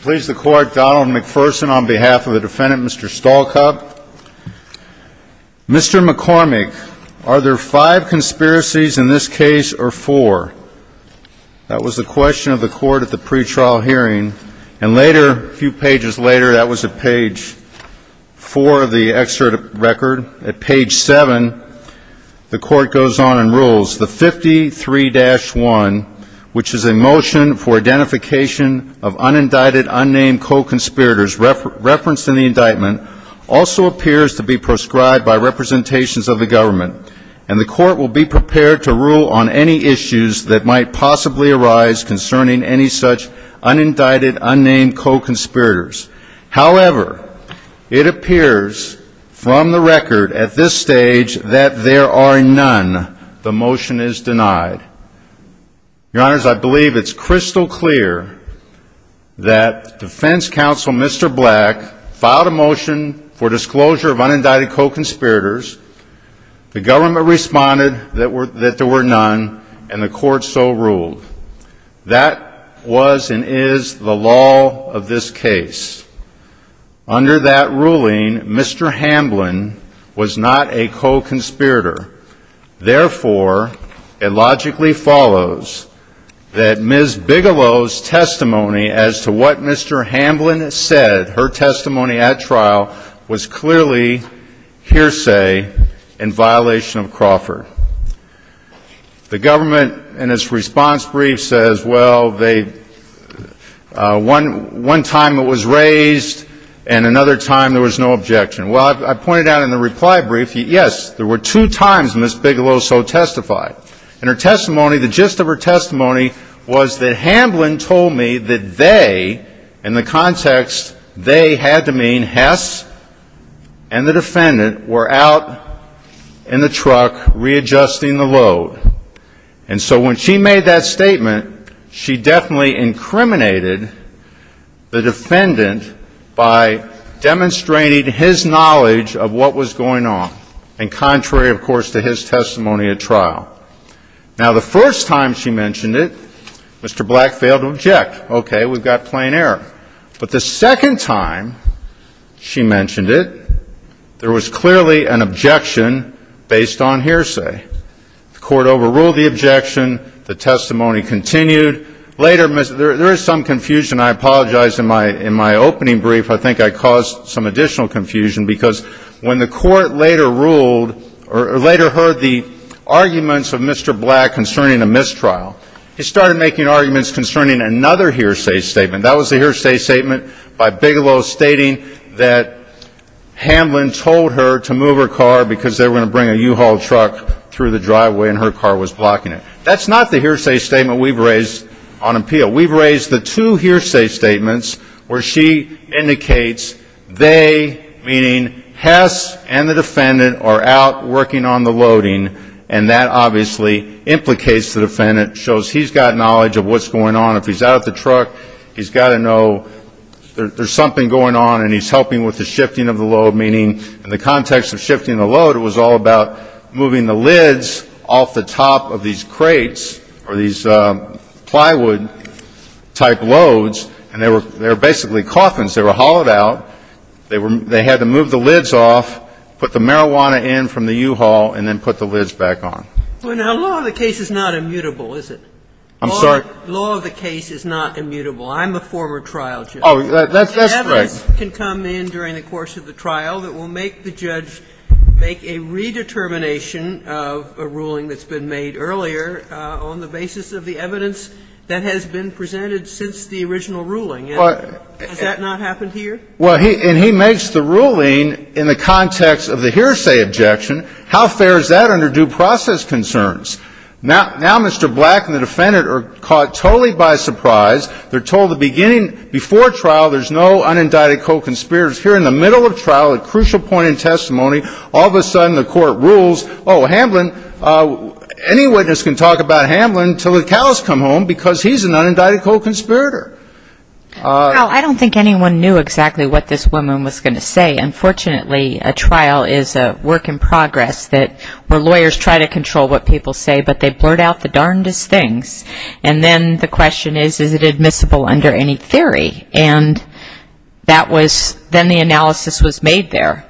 Mr. McCormick, are there five conspiracies in this case or four? The 53-1, which is a motion for identification of unindicted, unnamed co-conspirators referenced in the indictment, also appears to be proscribed by representations of the government, and the court will be prepared to rule on any issues that may arise. However, it appears from the record at this stage that there are none. The motion is denied. Your Honors, I believe it's crystal clear that Defense Counsel Mr. Black filed a motion for disclosure of unindicted co-conspirators. The government responded that there were none, and the court so ruled. That was and is the law of this case. Under that ruling, Mr. Hamblin was not a co-conspirator. Therefore, it logically follows that Ms. Bigelow's testimony as to what Mr. Hamblin said, her testimony at trial, was clearly hearsay in violation of Crawford. The government, in its response brief, says, well, one time it was raised, and another time there was no objection. Well, I pointed out in the reply brief, yes, there were two times Ms. Bigelow so testified. In her testimony, the gist of her testimony was that Hamblin told me that they, in the context they had to mean Hess and the defendant, were out in the truck readjusting the load. And so when she made that statement, she definitely incriminated the defendant by demonstrating his knowledge of what was going on, and contrary, of course, to his testimony at trial. Now, the first time she mentioned it, Mr. Black failed to object. Okay. We've got plain error. But the second time she mentioned it, there was clearly an objection based on hearsay. The court overruled the objection. The testimony continued. Later, there is some confusion. I apologize. In my opening brief, I think I caused some additional confusion because when the court later ruled or later heard the arguments of Mr. Black concerning a mistrial, he started making arguments concerning another hearsay statement. That was the hearsay statement by Bigelow stating that Hamblin told her to move her car because they were going to bring a U-Haul truck through the driveway and her car was blocking it. That's not the hearsay statement we've raised on appeal. We've raised the two hearsay statements where she indicates they, meaning Hess and the defendant, are out working on the loading, and that obviously implicates the defendant, shows he's got knowledge of what's going on. If he's out at the truck, he's got to know there's something going on, and he's helping with the shifting of the load, meaning in the context of shifting the load, it was all about moving the lids off the top of these crates or these plywood-type loads, and they were basically coffins. They were hauled out. They had to move the lids off, put the marijuana in from the U-Haul, and then put the lids back on. Kagan. Well, now, law of the case is not immutable, is it? I'm sorry? Law of the case is not immutable. I'm a former trial judge. Oh, that's right. Evidence can come in during the course of the trial that will make the judge make a redetermination of a ruling that's been made earlier on the basis of the evidence that has been presented since the original ruling. Has that not happened here? Well, and he makes the ruling in the context of the hearsay objection. How fair is that under due process concerns? Now Mr. Black and the defendant are caught totally by surprise. They're told the beginning before trial there's no unindicted co-conspirators. Here in the middle of trial, a crucial point in testimony, all of a sudden the Court rules, oh, Hamlin, any witness can talk about Hamlin until the cows come home because he's an unindicted co-conspirator. Well, I don't think anyone knew exactly what this woman was going to say. Unfortunately, a trial is a work in progress where lawyers try to control what people say, but they blurt out the darndest things. And then the question is, is it admissible under any theory? And that was then the analysis was made there.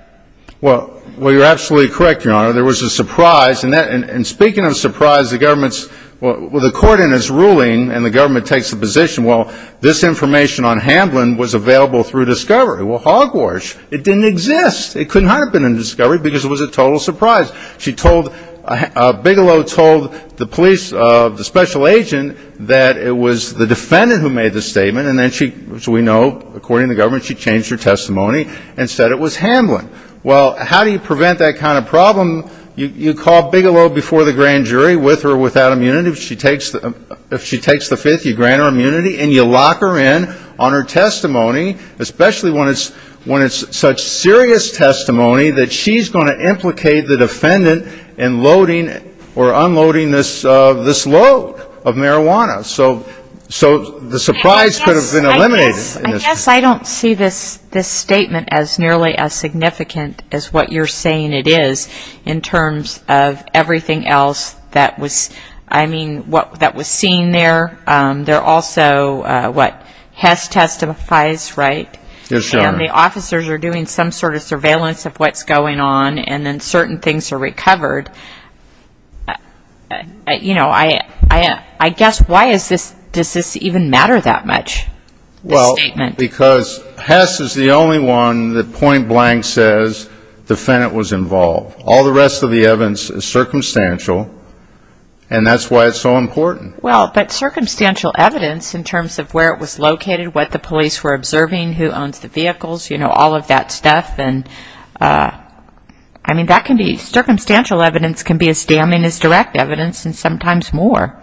Well, you're absolutely correct, Your Honor. There was a surprise. And speaking of surprise, the government's, well, the Court in its ruling and the government takes a position. Well, this information on Hamlin was available through discovery. Well, hogwash, it didn't exist. It couldn't have been a discovery because it was a total surprise. She told, Bigelow told the police, the special agent, that it was the defendant who made the statement. And then she, as we know, according to the government, she changed her testimony and said it was Hamlin. Well, how do you prevent that kind of problem? You call Bigelow before the grand jury with or without immunity. If she takes the fifth, you grant her immunity and you lock her in on her testimony, especially when it's such serious testimony that she's going to implicate the defendant in loading or unloading this load of marijuana. So the surprise could have been eliminated. I guess I don't see this statement as nearly as significant as what you're saying it is in terms of everything else that was, I mean, what that was seen there. There also, what, Hess testifies, right? Yes, Your Honor. And the officers are doing some sort of surveillance of what's going on and then certain things are recovered. You know, I guess why does this even matter that much, this statement? Well, because Hess is the only one that point blank says the defendant was involved. All the rest of the evidence is circumstantial, and that's why it's so important. Well, but circumstantial evidence in terms of where it was located, what the police were observing, who owns the vehicles, you know, all of that stuff, and, I mean, that can be, circumstantial evidence can be as damning as direct evidence and sometimes more.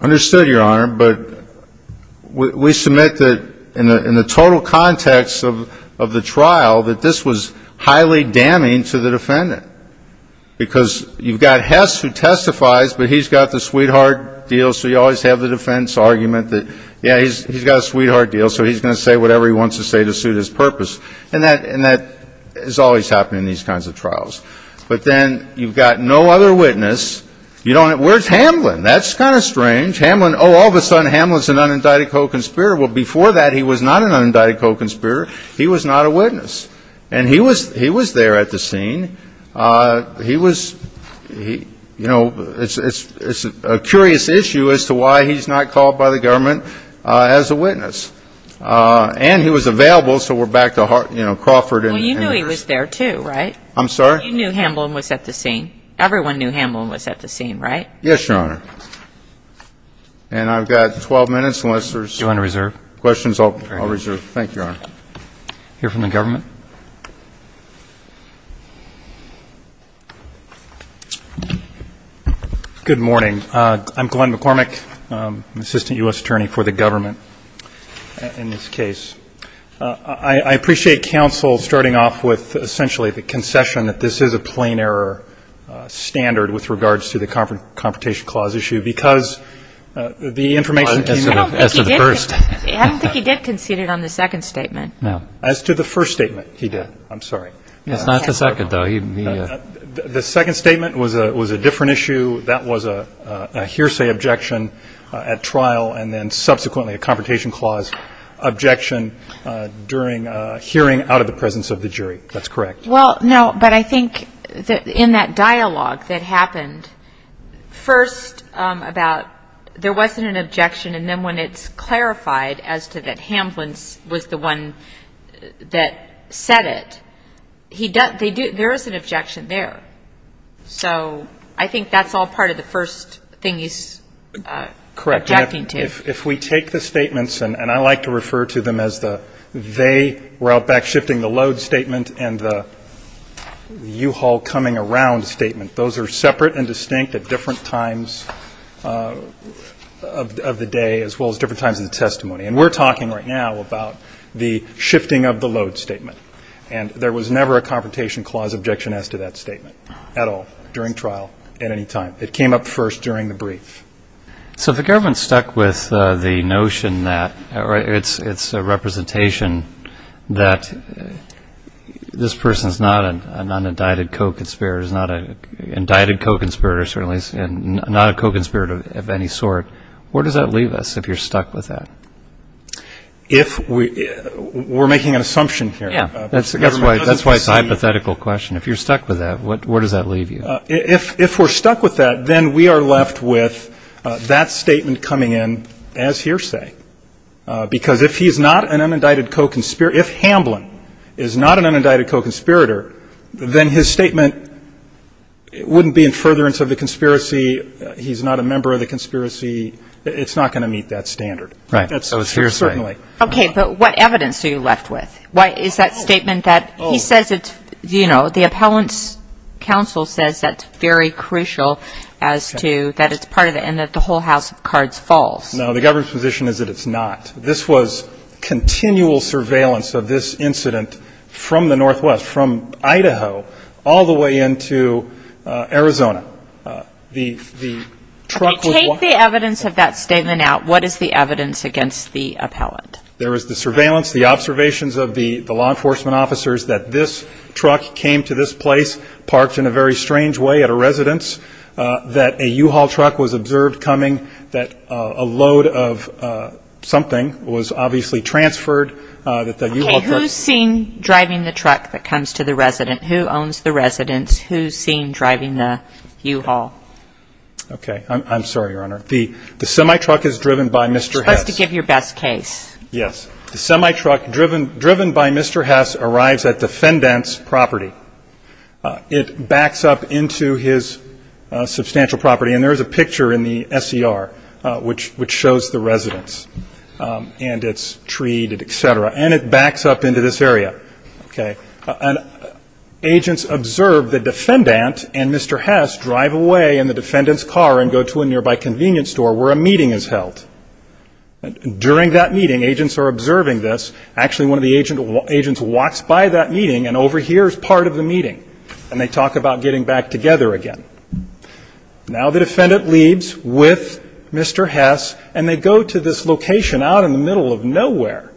Understood, Your Honor. But we submit that in the total context of the trial, that this was highly damning to the defendant, because you've got Hess who testifies, but he's got the sweetheart deal, so you always have the defense argument that, yeah, he's got a sweetheart deal, so he's going to say whatever he wants to say to suit his purpose. And that is always happening in these kinds of trials. But then you've got no other witness. You don't have, where's Hamlin? That's kind of strange. Hamlin, oh, all of a sudden Hamlin's an unindicted co-conspirator. Well, before that he was not an unindicted co-conspirator. He was not a witness. And he was there at the scene. He was, you know, it's a curious issue as to why he's not called by the government as a witness. And he was available, so we're back to, you know, Crawford. Well, you knew he was there too, right? I'm sorry? You knew Hamlin was at the scene. Everyone knew Hamlin was at the scene, right? Yes, Your Honor. And I've got 12 minutes unless there's questions I'll reserve. Thank you, Your Honor. Hear from the government? Good morning. I'm Glenn McCormick, assistant U.S. attorney for the government in this case. I appreciate counsel starting off with essentially the concession that this is a plain error standard with regards to the Confrontation Clause issue because the information came out as to the first. I don't think he did concede it on the second statement. No. As to the first statement, he did. I'm sorry. It's not the second, though. The second statement was a different issue. That was a hearsay objection at trial and then subsequently a Confrontation Clause objection during a hearing out of the presence of the jury. That's correct. Well, no, but I think in that dialogue that happened, first about there wasn't an objection and then when it's clarified as to that Hamlin was the one that said it, there is an objection there. So I think that's all part of the first thing he's objecting to. Correct. If we take the statements, and I like to refer to them as the they were out back shifting the load statement and the U-Haul coming around statement, those are separate and distinct at different times of the day as well as different times in the testimony. And we're talking right now about the shifting of the load statement. And there was never a Confrontation Clause objection as to that statement at all during trial at any time. It came up first during the brief. So if the government's stuck with the notion that it's a representation that this person is not an undided co-conspirator, is not an indicted co-conspirator, certainly is not a co-conspirator of any sort, where does that leave us if you're stuck with that? We're making an assumption here. Yeah, that's why it's a hypothetical question. If you're stuck with that, where does that leave you? If we're stuck with that, then we are left with that statement coming in as hearsay. Because if he's not an undided co-conspirator, if Hamblin is not an undided co-conspirator, then his statement wouldn't be in furtherance of the conspiracy, he's not a member of the conspiracy, it's not going to meet that standard. Right. So it's hearsay. Certainly. Okay. But what evidence are you left with? Why, is that statement that he says it's, you know, the appellant's counsel says that's very crucial as to that it's part of it and that the whole house of cards falls. No, the government's position is that it's not. This was continual surveillance of this incident from the northwest, from Idaho, all the way into Arizona. The truck was walking. Okay, take the evidence of that statement out. What is the evidence against the appellant? There is the surveillance, the observations of the law enforcement officers that this truck came to this place, parked in a very strange way at a residence, that a U-Haul truck was observed coming, that a load of something was obviously transferred, that the U-Haul truck. Okay, who's seen driving the truck that comes to the residence? Who owns the residence? Who's seen driving the U-Haul? Okay, I'm sorry, Your Honor. The semi-truck is driven by Mr. Hess. Just to give your best case. Yes. The semi-truck driven by Mr. Hess arrives at the defendant's property. It backs up into his substantial property. And there is a picture in the S.E.R. which shows the residence and its tree, et cetera. And it backs up into this area. Okay. And agents observe the defendant and Mr. Hess drive away in the defendant's car and go to a nearby convenience store where a meeting is held. During that meeting, agents are observing this. Actually, one of the agents walks by that meeting and overhears part of the meeting. And they talk about getting back together again. Now the defendant leaves with Mr. Hess and they go to this location out in the middle of nowhere.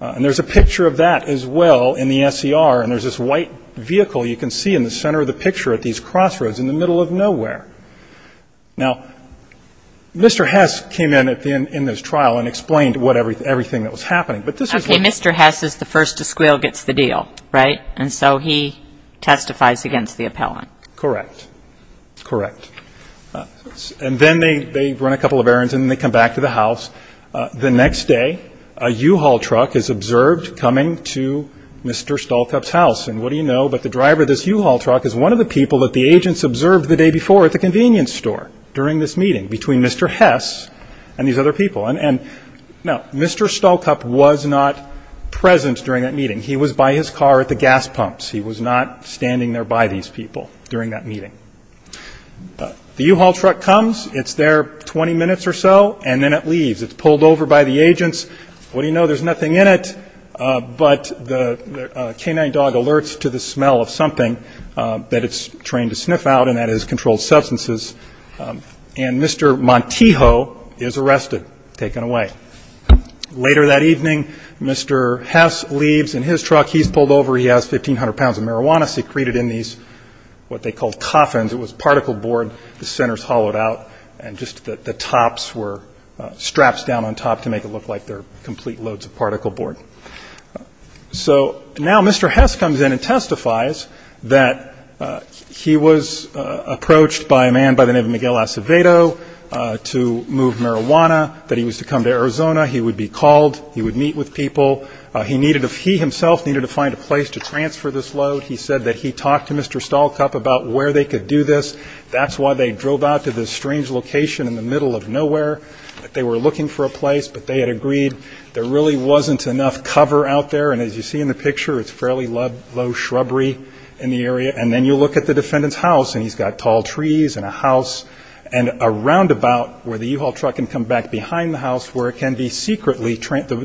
And there's a picture of that as well in the S.E.R. And there's this white vehicle you can see in the center of the picture at these crossroads in the middle of nowhere. Now, Mr. Hess came in at the end in this trial and explained what everything that was happening. Okay. Mr. Hess is the first to squeal gets the deal, right? And so he testifies against the appellant. Correct. Correct. And then they run a couple of errands and they come back to the house. The next day, a U-Haul truck is observed coming to Mr. Stolkup's house. And what do you know, but the driver of this U-Haul truck is one of the people that the agents observed the day before at the convenience store during this meeting between Mr. Hess and these other people. And, no, Mr. Stolkup was not present during that meeting. He was by his car at the gas pumps. He was not standing there by these people during that meeting. The U-Haul truck comes. It's there 20 minutes or so, and then it leaves. It's pulled over by the agents. What do you know, there's nothing in it, but the canine dog alerts to the smell of something that it's trained to sniff out, and that is controlled substances. And Mr. Montijo is arrested, taken away. Later that evening, Mr. Hess leaves in his truck. He's pulled over. He has 1,500 pounds of marijuana secreted in these what they called coffins. It was particle board. The center is hollowed out, and just the tops were straps down on top to make it look like they're complete loads of particle board. So now Mr. Hess comes in and testifies that he was approached by a man by the name of Miguel Acevedo to move marijuana, that he was to come to Arizona. He would be called. He would meet with people. He himself needed to find a place to transfer this load. He said that he talked to Mr. Stallcup about where they could do this. That's why they drove out to this strange location in the middle of nowhere. They were looking for a place, but they had agreed there really wasn't enough cover out there, and as you see in the picture, it's fairly low shrubbery in the area. And then you look at the defendant's house, and he's got tall trees and a house and a roundabout where the U-Haul truck can come back behind the house where the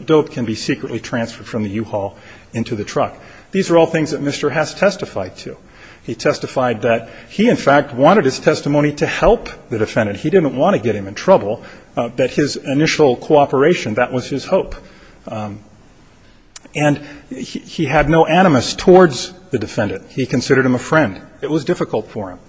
dope can be secretly transferred from the U-Haul into the truck. These are all things that Mr. Hess testified to. He testified that he, in fact, wanted his testimony to help the defendant. He didn't want to get him in trouble, but his initial cooperation, that was his hope. And he had no animus towards the defendant. He considered him a friend. It was difficult for him.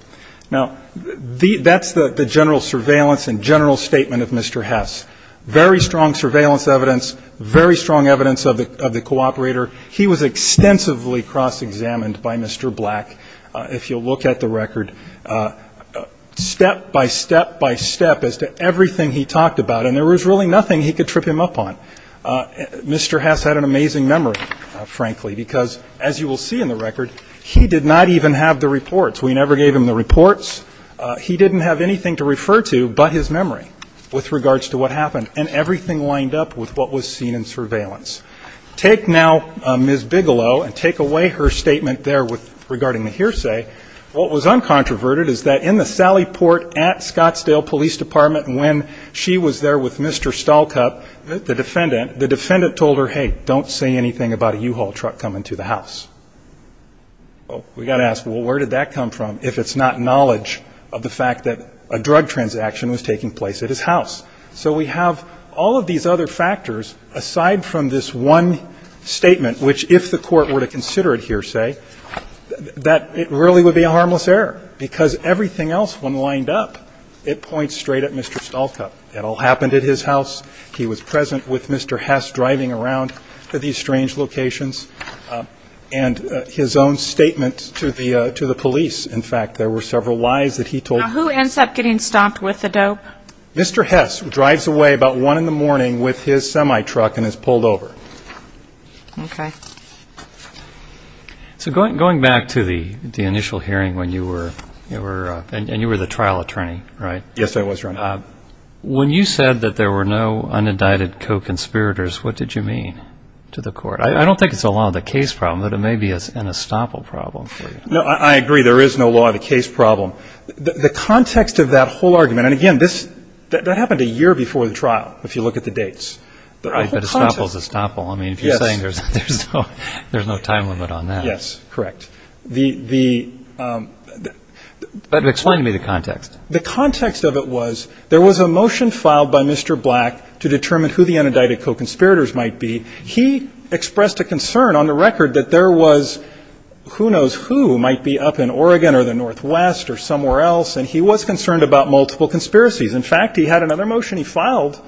Now, that's the general surveillance and general statement of Mr. Hess. Very strong surveillance evidence, very strong evidence of the cooperator. He was extensively cross-examined by Mr. Black, if you'll look at the record, step by step by step as to everything he talked about, and there was really nothing he could trip him up on. Mr. Hess had an amazing memory, frankly, because, as you will see in the record, he did not even have the reports. We never gave him the reports. He didn't have anything to refer to but his memory with regards to what happened, and everything lined up with what was seen in surveillance. Take now Ms. Bigelow and take away her statement there regarding the hearsay. What was uncontroverted is that in the Sally Port at Scottsdale Police Department, when she was there with Mr. Stahlcup, the defendant, the defendant told her, hey, don't say anything about a U-Haul truck coming to the house. Well, we've got to ask, well, where did that come from if it's not knowledge of the fact that a drug transaction was taking place at his house? So we have all of these other factors aside from this one statement, which if the Court were to consider it hearsay, that it really would be a harmless error, because everything else, when lined up, it points straight at Mr. Stahlcup. It all happened at his house. He was present with Mr. Hess driving around to these strange locations. And his own statement to the police, in fact, there were several lies that he told. Now, who ends up getting stopped with the dope? Mr. Hess drives away about 1 in the morning with his semi-truck and is pulled over. Okay. So going back to the initial hearing when you were, and you were the trial attorney, right? Yes, I was, Your Honor. When you said that there were no unindicted co-conspirators, what did you mean to the Court? I don't think it's a law of the case problem, but it may be an estoppel problem for you. No, I agree there is no law of the case problem. The context of that whole argument, and, again, that happened a year before the trial, if you look at the dates. But estoppel is estoppel. I mean, if you're saying there's no time limit on that. Yes, correct. Explain to me the context. The context of it was there was a motion filed by Mr. Black to determine who the unindicted co-conspirators might be. He expressed a concern on the record that there was who knows who might be up in Oregon or the northwest or somewhere else, and he was concerned about multiple conspiracies. In fact, he had another motion he filed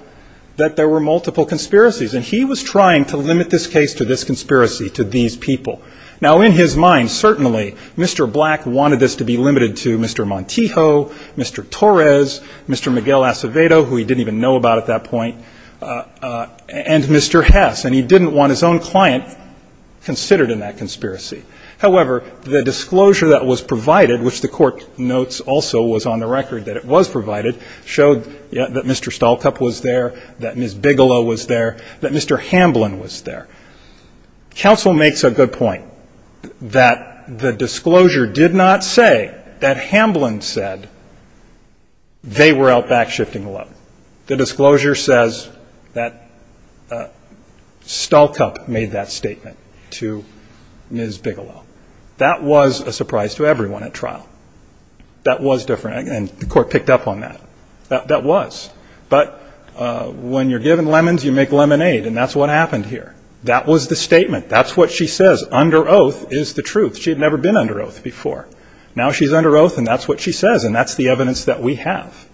that there were multiple conspiracies, and he was trying to limit this case to this conspiracy, to these people. Now, in his mind, certainly, Mr. Black wanted this to be limited to Mr. Montijo, Mr. Torres, Mr. Miguel Acevedo, who he didn't even know about at that point, and Mr. Hess, and he didn't want his own client considered in that conspiracy. However, the disclosure that was provided, which the Court notes also was on the record that it was provided, showed that Mr. Stahlcup was there, that Ms. Bigelow was there, that Mr. Hamblin was there. Counsel makes a good point that the disclosure did not say that Hamblin said they were out backshifting alone. The disclosure says that Stahlcup made that statement to Ms. Bigelow. That was a surprise to everyone at trial. That was different, and the Court picked up on that. That was. But when you're given lemons, you make lemonade, and that's what happened here. That was the statement. That's what she says. Under oath is the truth. She had never been under oath before. Now she's under oath, and that's what she says, and that's the evidence that we have.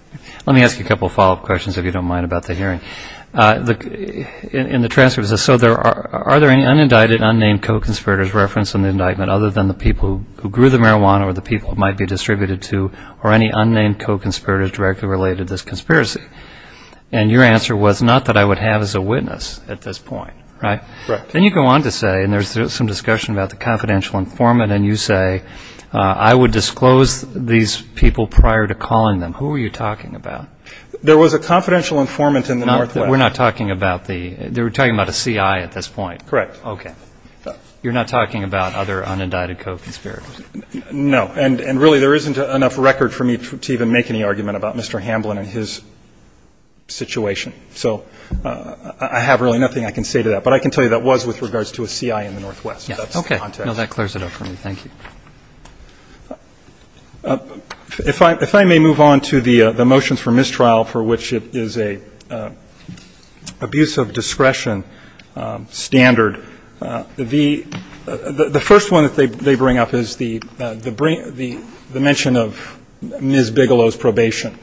Let me ask you a couple of follow-up questions, if you don't mind, about the hearing. In the transcript, it says, so are there any unindicted, unnamed co-conspirators referenced in the indictment other than the people who grew the marijuana or the people it might be distributed to, or any unnamed co-conspirators directly related to this conspiracy? And your answer was not that I would have as a witness at this point, right? Correct. Then you go on to say, and there's some discussion about the confidential informant, and you say, I would disclose these people prior to calling them. Who are you talking about? There was a confidential informant in the Northwest. We're not talking about the CI at this point? Correct. Okay. You're not talking about other unindicted co-conspirators? No. And really, there isn't enough record for me to even make any argument about Mr. Hamblin and his situation. So I have really nothing I can say to that. But I can tell you that was with regards to a CI in the Northwest. Okay. That's the context. No, that clears it up for me. Thank you. If I may move on to the motions for mistrial, for which it is an abuse of discretion standard, the first one that they bring up is the mention of Ms. Bigelow's probation.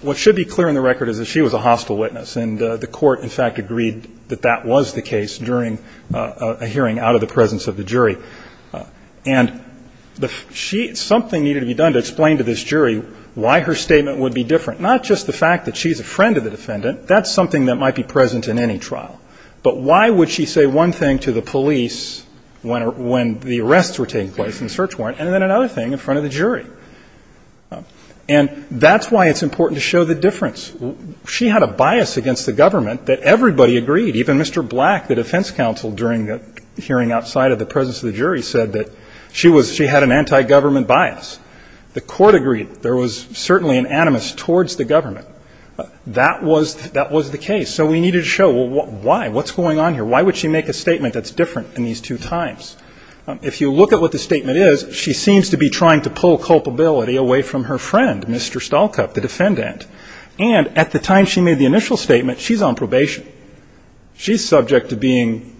What should be clear in the record is that she was a hostile witness, and the court, in fact, agreed that that was the case during a hearing out of the presence of the jury. And something needed to be done to explain to this jury why her statement would be different, not just the fact that she's a friend of the defendant. That's something that might be present in any trial. But why would she say one thing to the police when the arrests were taking place in search warrant, and then another thing in front of the jury? And that's why it's important to show the difference. She had a bias against the government that everybody agreed, even Mr. Black, the defense counsel during the hearing outside of the presence of the jury, said that she was ‑‑ she had an anti‑government bias. The court agreed. There was certainly an animus towards the government. But that was the case. So we needed to show why. What's going on here? Why would she make a statement that's different in these two times? If you look at what the statement is, she seems to be trying to pull culpability away from her friend, Mr. Stolkup, the defendant. And at the time she made the initial statement, she's on probation. She's subject to being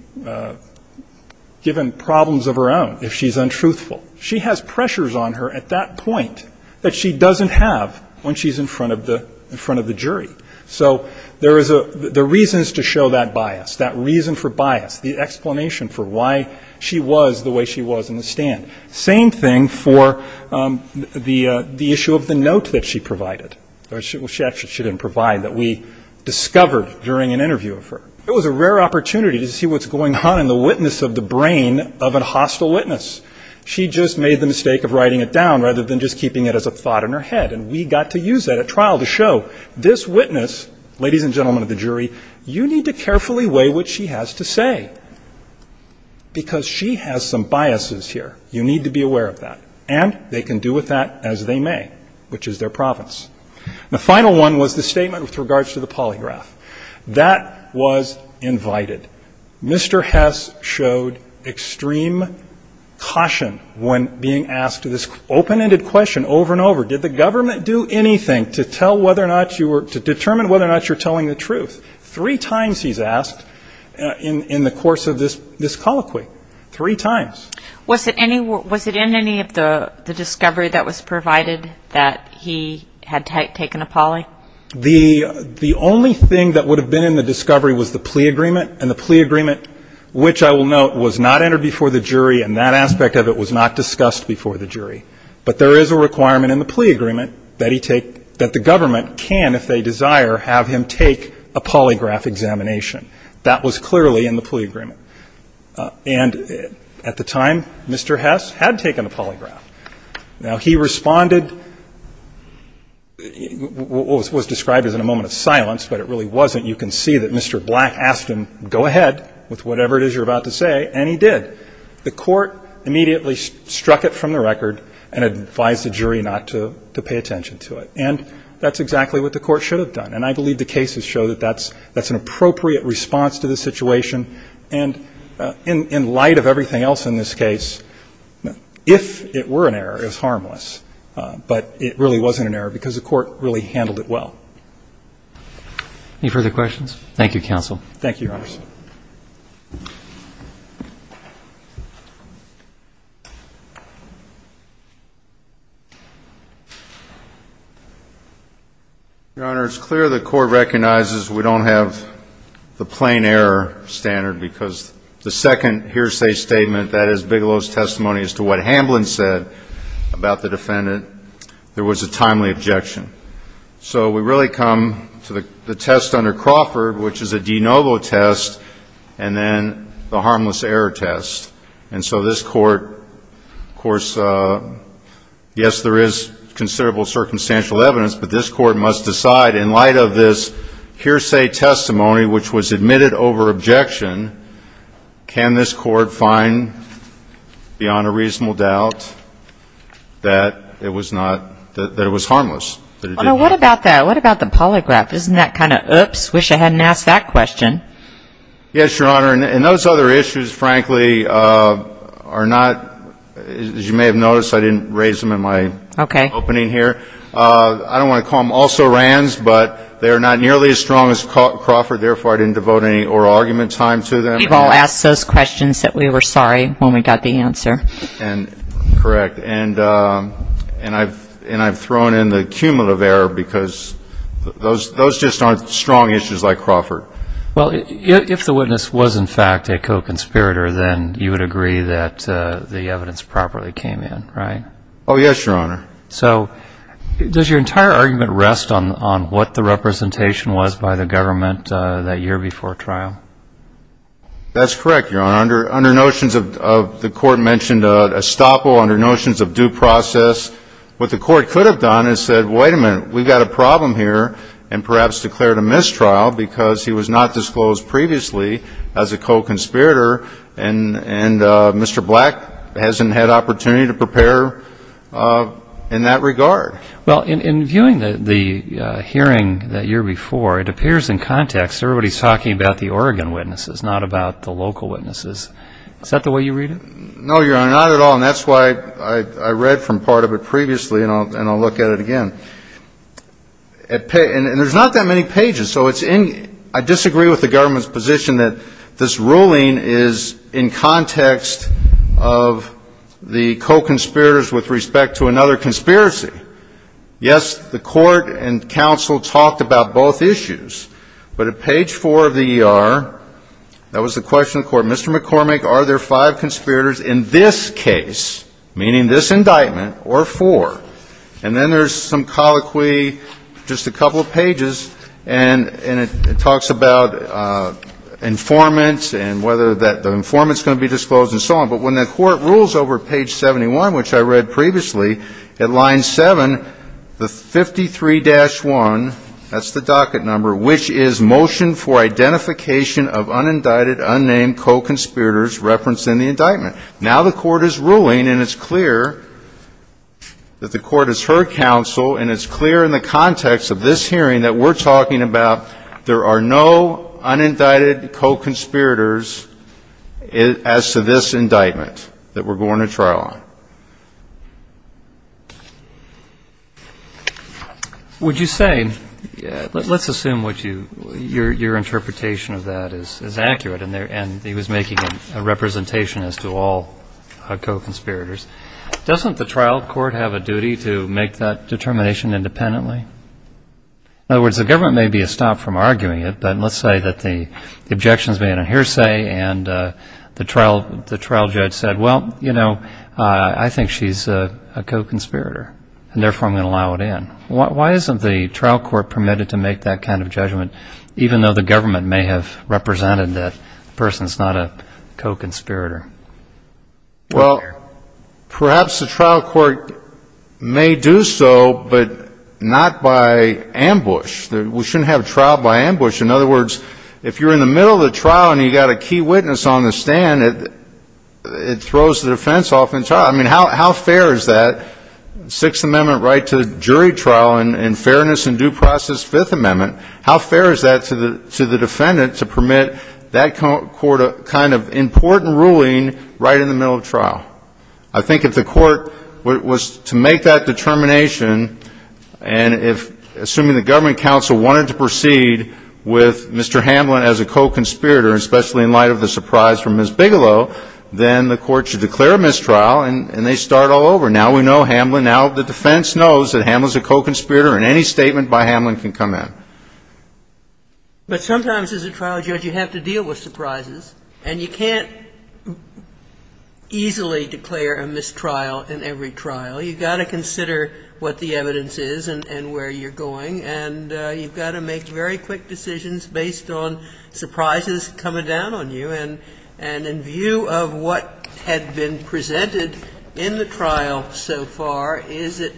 given problems of her own if she's untruthful. She has pressures on her at that point that she doesn't have when she's in front of the jury. So there is a ‑‑ the reasons to show that bias, that reason for bias, the explanation for why she was the way she was in the stand. Same thing for the issue of the note that she provided. Well, she actually didn't provide, that we discovered during an interview of her. It was a rare opportunity to see what's going on in the witness of the brain of a hostile witness. She just made the mistake of writing it down rather than just keeping it as a thought in her head. And we got to use that at trial to show this witness, ladies and gentlemen of the jury, you need to carefully weigh what she has to say, because she has some biases here. You need to be aware of that. And they can do with that as they may, which is their province. The final one was the statement with regards to the polygraph. That was invited. Mr. Hess showed extreme caution when being asked this open‑ended question over and over. Did the government do anything to tell whether or not you were, to determine whether or not you're telling the truth? Three times he's asked in the course of this colloquy. Three times. Was it in any of the discovery that was provided that he had taken a poly? The only thing that would have been in the discovery was the plea agreement. And the plea agreement, which I will note, was not entered before the jury, and that aspect of it was not discussed before the jury. But there is a requirement in the plea agreement that he take ‑‑ that the government can, if they desire, have him take a polygraph examination. That was clearly in the plea agreement. And at the time, Mr. Hess had taken a polygraph. Now, he responded, what was described as a moment of silence, but it really wasn't. You can see that Mr. Black asked him, go ahead with whatever it is you're about to say, and he did. The court immediately struck it from the record and advised the jury not to pay attention to it. And that's exactly what the court should have done. And I believe the cases show that that's an appropriate response to the situation. And in light of everything else in this case, if it were an error, it was harmless. But it really wasn't an error because the court really handled it well. Thank you, counsel. Thank you, Your Honors. Your Honor, it's clear the court recognizes we don't have the plain error standard because the second hearsay statement, that is Bigelow's testimony as to what Hamblin said about the defendant, there was a timely objection. So we really come to the test under Crawford, which is a de novo test, which is a trial test, and then the harmless error test. And so this court, of course, yes, there is considerable circumstantial evidence, but this court must decide in light of this hearsay testimony, which was admitted over objection, can this court find beyond a reasonable doubt that it was not ñ that it was harmless? What about that? What about the polygraph? Isn't that kind of oops? Wish I hadn't asked that question. Yes, Your Honor. And those other issues, frankly, are not ñ as you may have noticed, I didn't raise them in my opening here. I don't want to call them also rands, but they are not nearly as strong as Crawford, therefore I didn't devote any oral argument time to them. We've all asked those questions that we were sorry when we got the answer. Correct. And I've thrown in the cumulative error because those just aren't strong questions like Crawford. Well, if the witness was, in fact, a co-conspirator, then you would agree that the evidence properly came in, right? Oh, yes, Your Honor. So does your entire argument rest on what the representation was by the government that year before trial? That's correct, Your Honor. Under notions of ñ the court mentioned estoppel, under notions of due process, what the court could have done is said, wait a minute, we've got a problem here, and perhaps declared a mistrial because he was not disclosed previously as a co-conspirator, and Mr. Black hasn't had opportunity to prepare in that regard. Well, in viewing the hearing the year before, it appears in context everybody's talking about the Oregon witnesses, not about the local witnesses. Is that the way you read it? No, Your Honor, not at all, and that's why I read from part of it previously, and I'll look at it again. And there's not that many pages, so I disagree with the government's position that this ruling is in context of the co-conspirators with respect to another conspiracy. Yes, the court and counsel talked about both issues, but at page 4 of the ER, that was the question of the court, Mr. McCormick, are there five conspirators in this case, meaning this indictment, or four? And then there's some colloquy, just a couple of pages, and it talks about informants and whether the informant's going to be disclosed and so on, but when the court rules over page 71, which I read previously, at line 7, the 53-1, that's the docket number, which is motion for identification of unindicted, unnamed co-conspirators referenced in the indictment. Now the court is ruling, and it's clear that the court has heard counsel, and it's clear in the context of this hearing that we're talking about there are no unindicted co-conspirators as to this indictment that we're going to trial on. Would you say, let's assume what you, your interpretation of that is accurate and he was making a representation as to all co-conspirators, doesn't the trial court have a duty to make that determination independently? In other words, the government may be a stop from arguing it, but let's say that the objections made on hearsay and the trial judge said, well, you know, I think she's a co-conspirator, and therefore I'm going to allow it in. Why isn't the trial court permitted to make that kind of judgment, even though the government may have represented that the person's not a co-conspirator? Well, perhaps the trial court may do so, but not by ambush. We shouldn't have trial by ambush. In other words, if you're in the middle of the trial and you've got a key witness on the stand, it throws the defense off entirely. I mean, how fair is that Sixth Amendment right to jury trial in fairness and due process Fifth Amendment? How fair is that to the defendant to permit that kind of important ruling right in the middle of trial? I think if the court was to make that determination and if, assuming the government counsel wanted to proceed with Mr. Hamlin as a co-conspirator, especially in light of the surprise from Ms. Bigelow, then the court should declare a mistrial and they start all over. Now we know Hamlin, now the defense knows that Hamlin's a co-conspirator and any kind of surprise can come in. But sometimes as a trial judge, you have to deal with surprises, and you can't easily declare a mistrial in every trial. You've got to consider what the evidence is and where you're going, and you've got to make very quick decisions based on surprises coming down on you. And in view of what had been presented in the trial so far, is it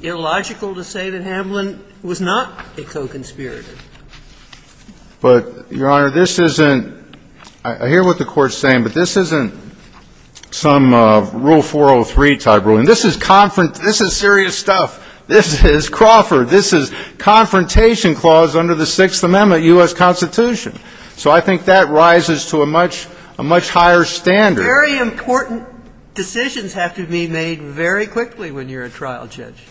illogical to say that Hamlin was not a co-conspirator? But, Your Honor, this isn't – I hear what the Court's saying, but this isn't some Rule 403 type ruling. This is serious stuff. This is Crawford. This is confrontation clause under the Sixth Amendment U.S. Constitution. So I think that rises to a much higher standard. Very important decisions have to be made very quickly when you're a trial judge.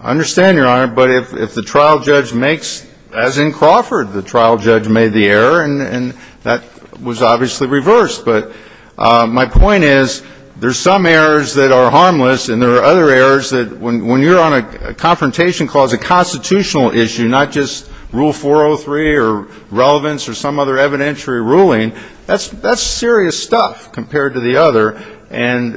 I understand, Your Honor, but if the trial judge makes, as in Crawford, the trial judge made the error, and that was obviously reversed. But my point is there's some errors that are harmless, and there are other errors that when you're on a confrontation clause, a constitutional issue, not just Rule 403 or relevance or some other evidentiary ruling, that's serious stuff compared to the other. And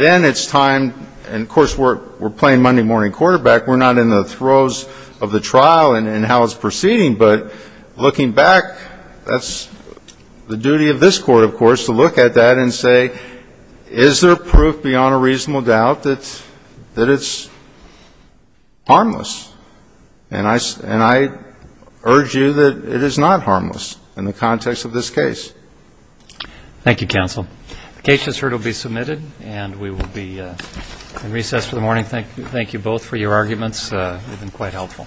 then it's time – and, of course, we're playing Monday morning quarterback. We're not in the throes of the trial and how it's proceeding, but looking back, that's the duty of this Court, of course, to look at that and say, is there proof beyond a reasonable doubt that it's harmless? And I urge you that it is not harmless in the context of this case. Thank you, counsel. The case is heard. It will be submitted, and we will be in recess for the morning. Thank you both for your arguments. They've been quite helpful.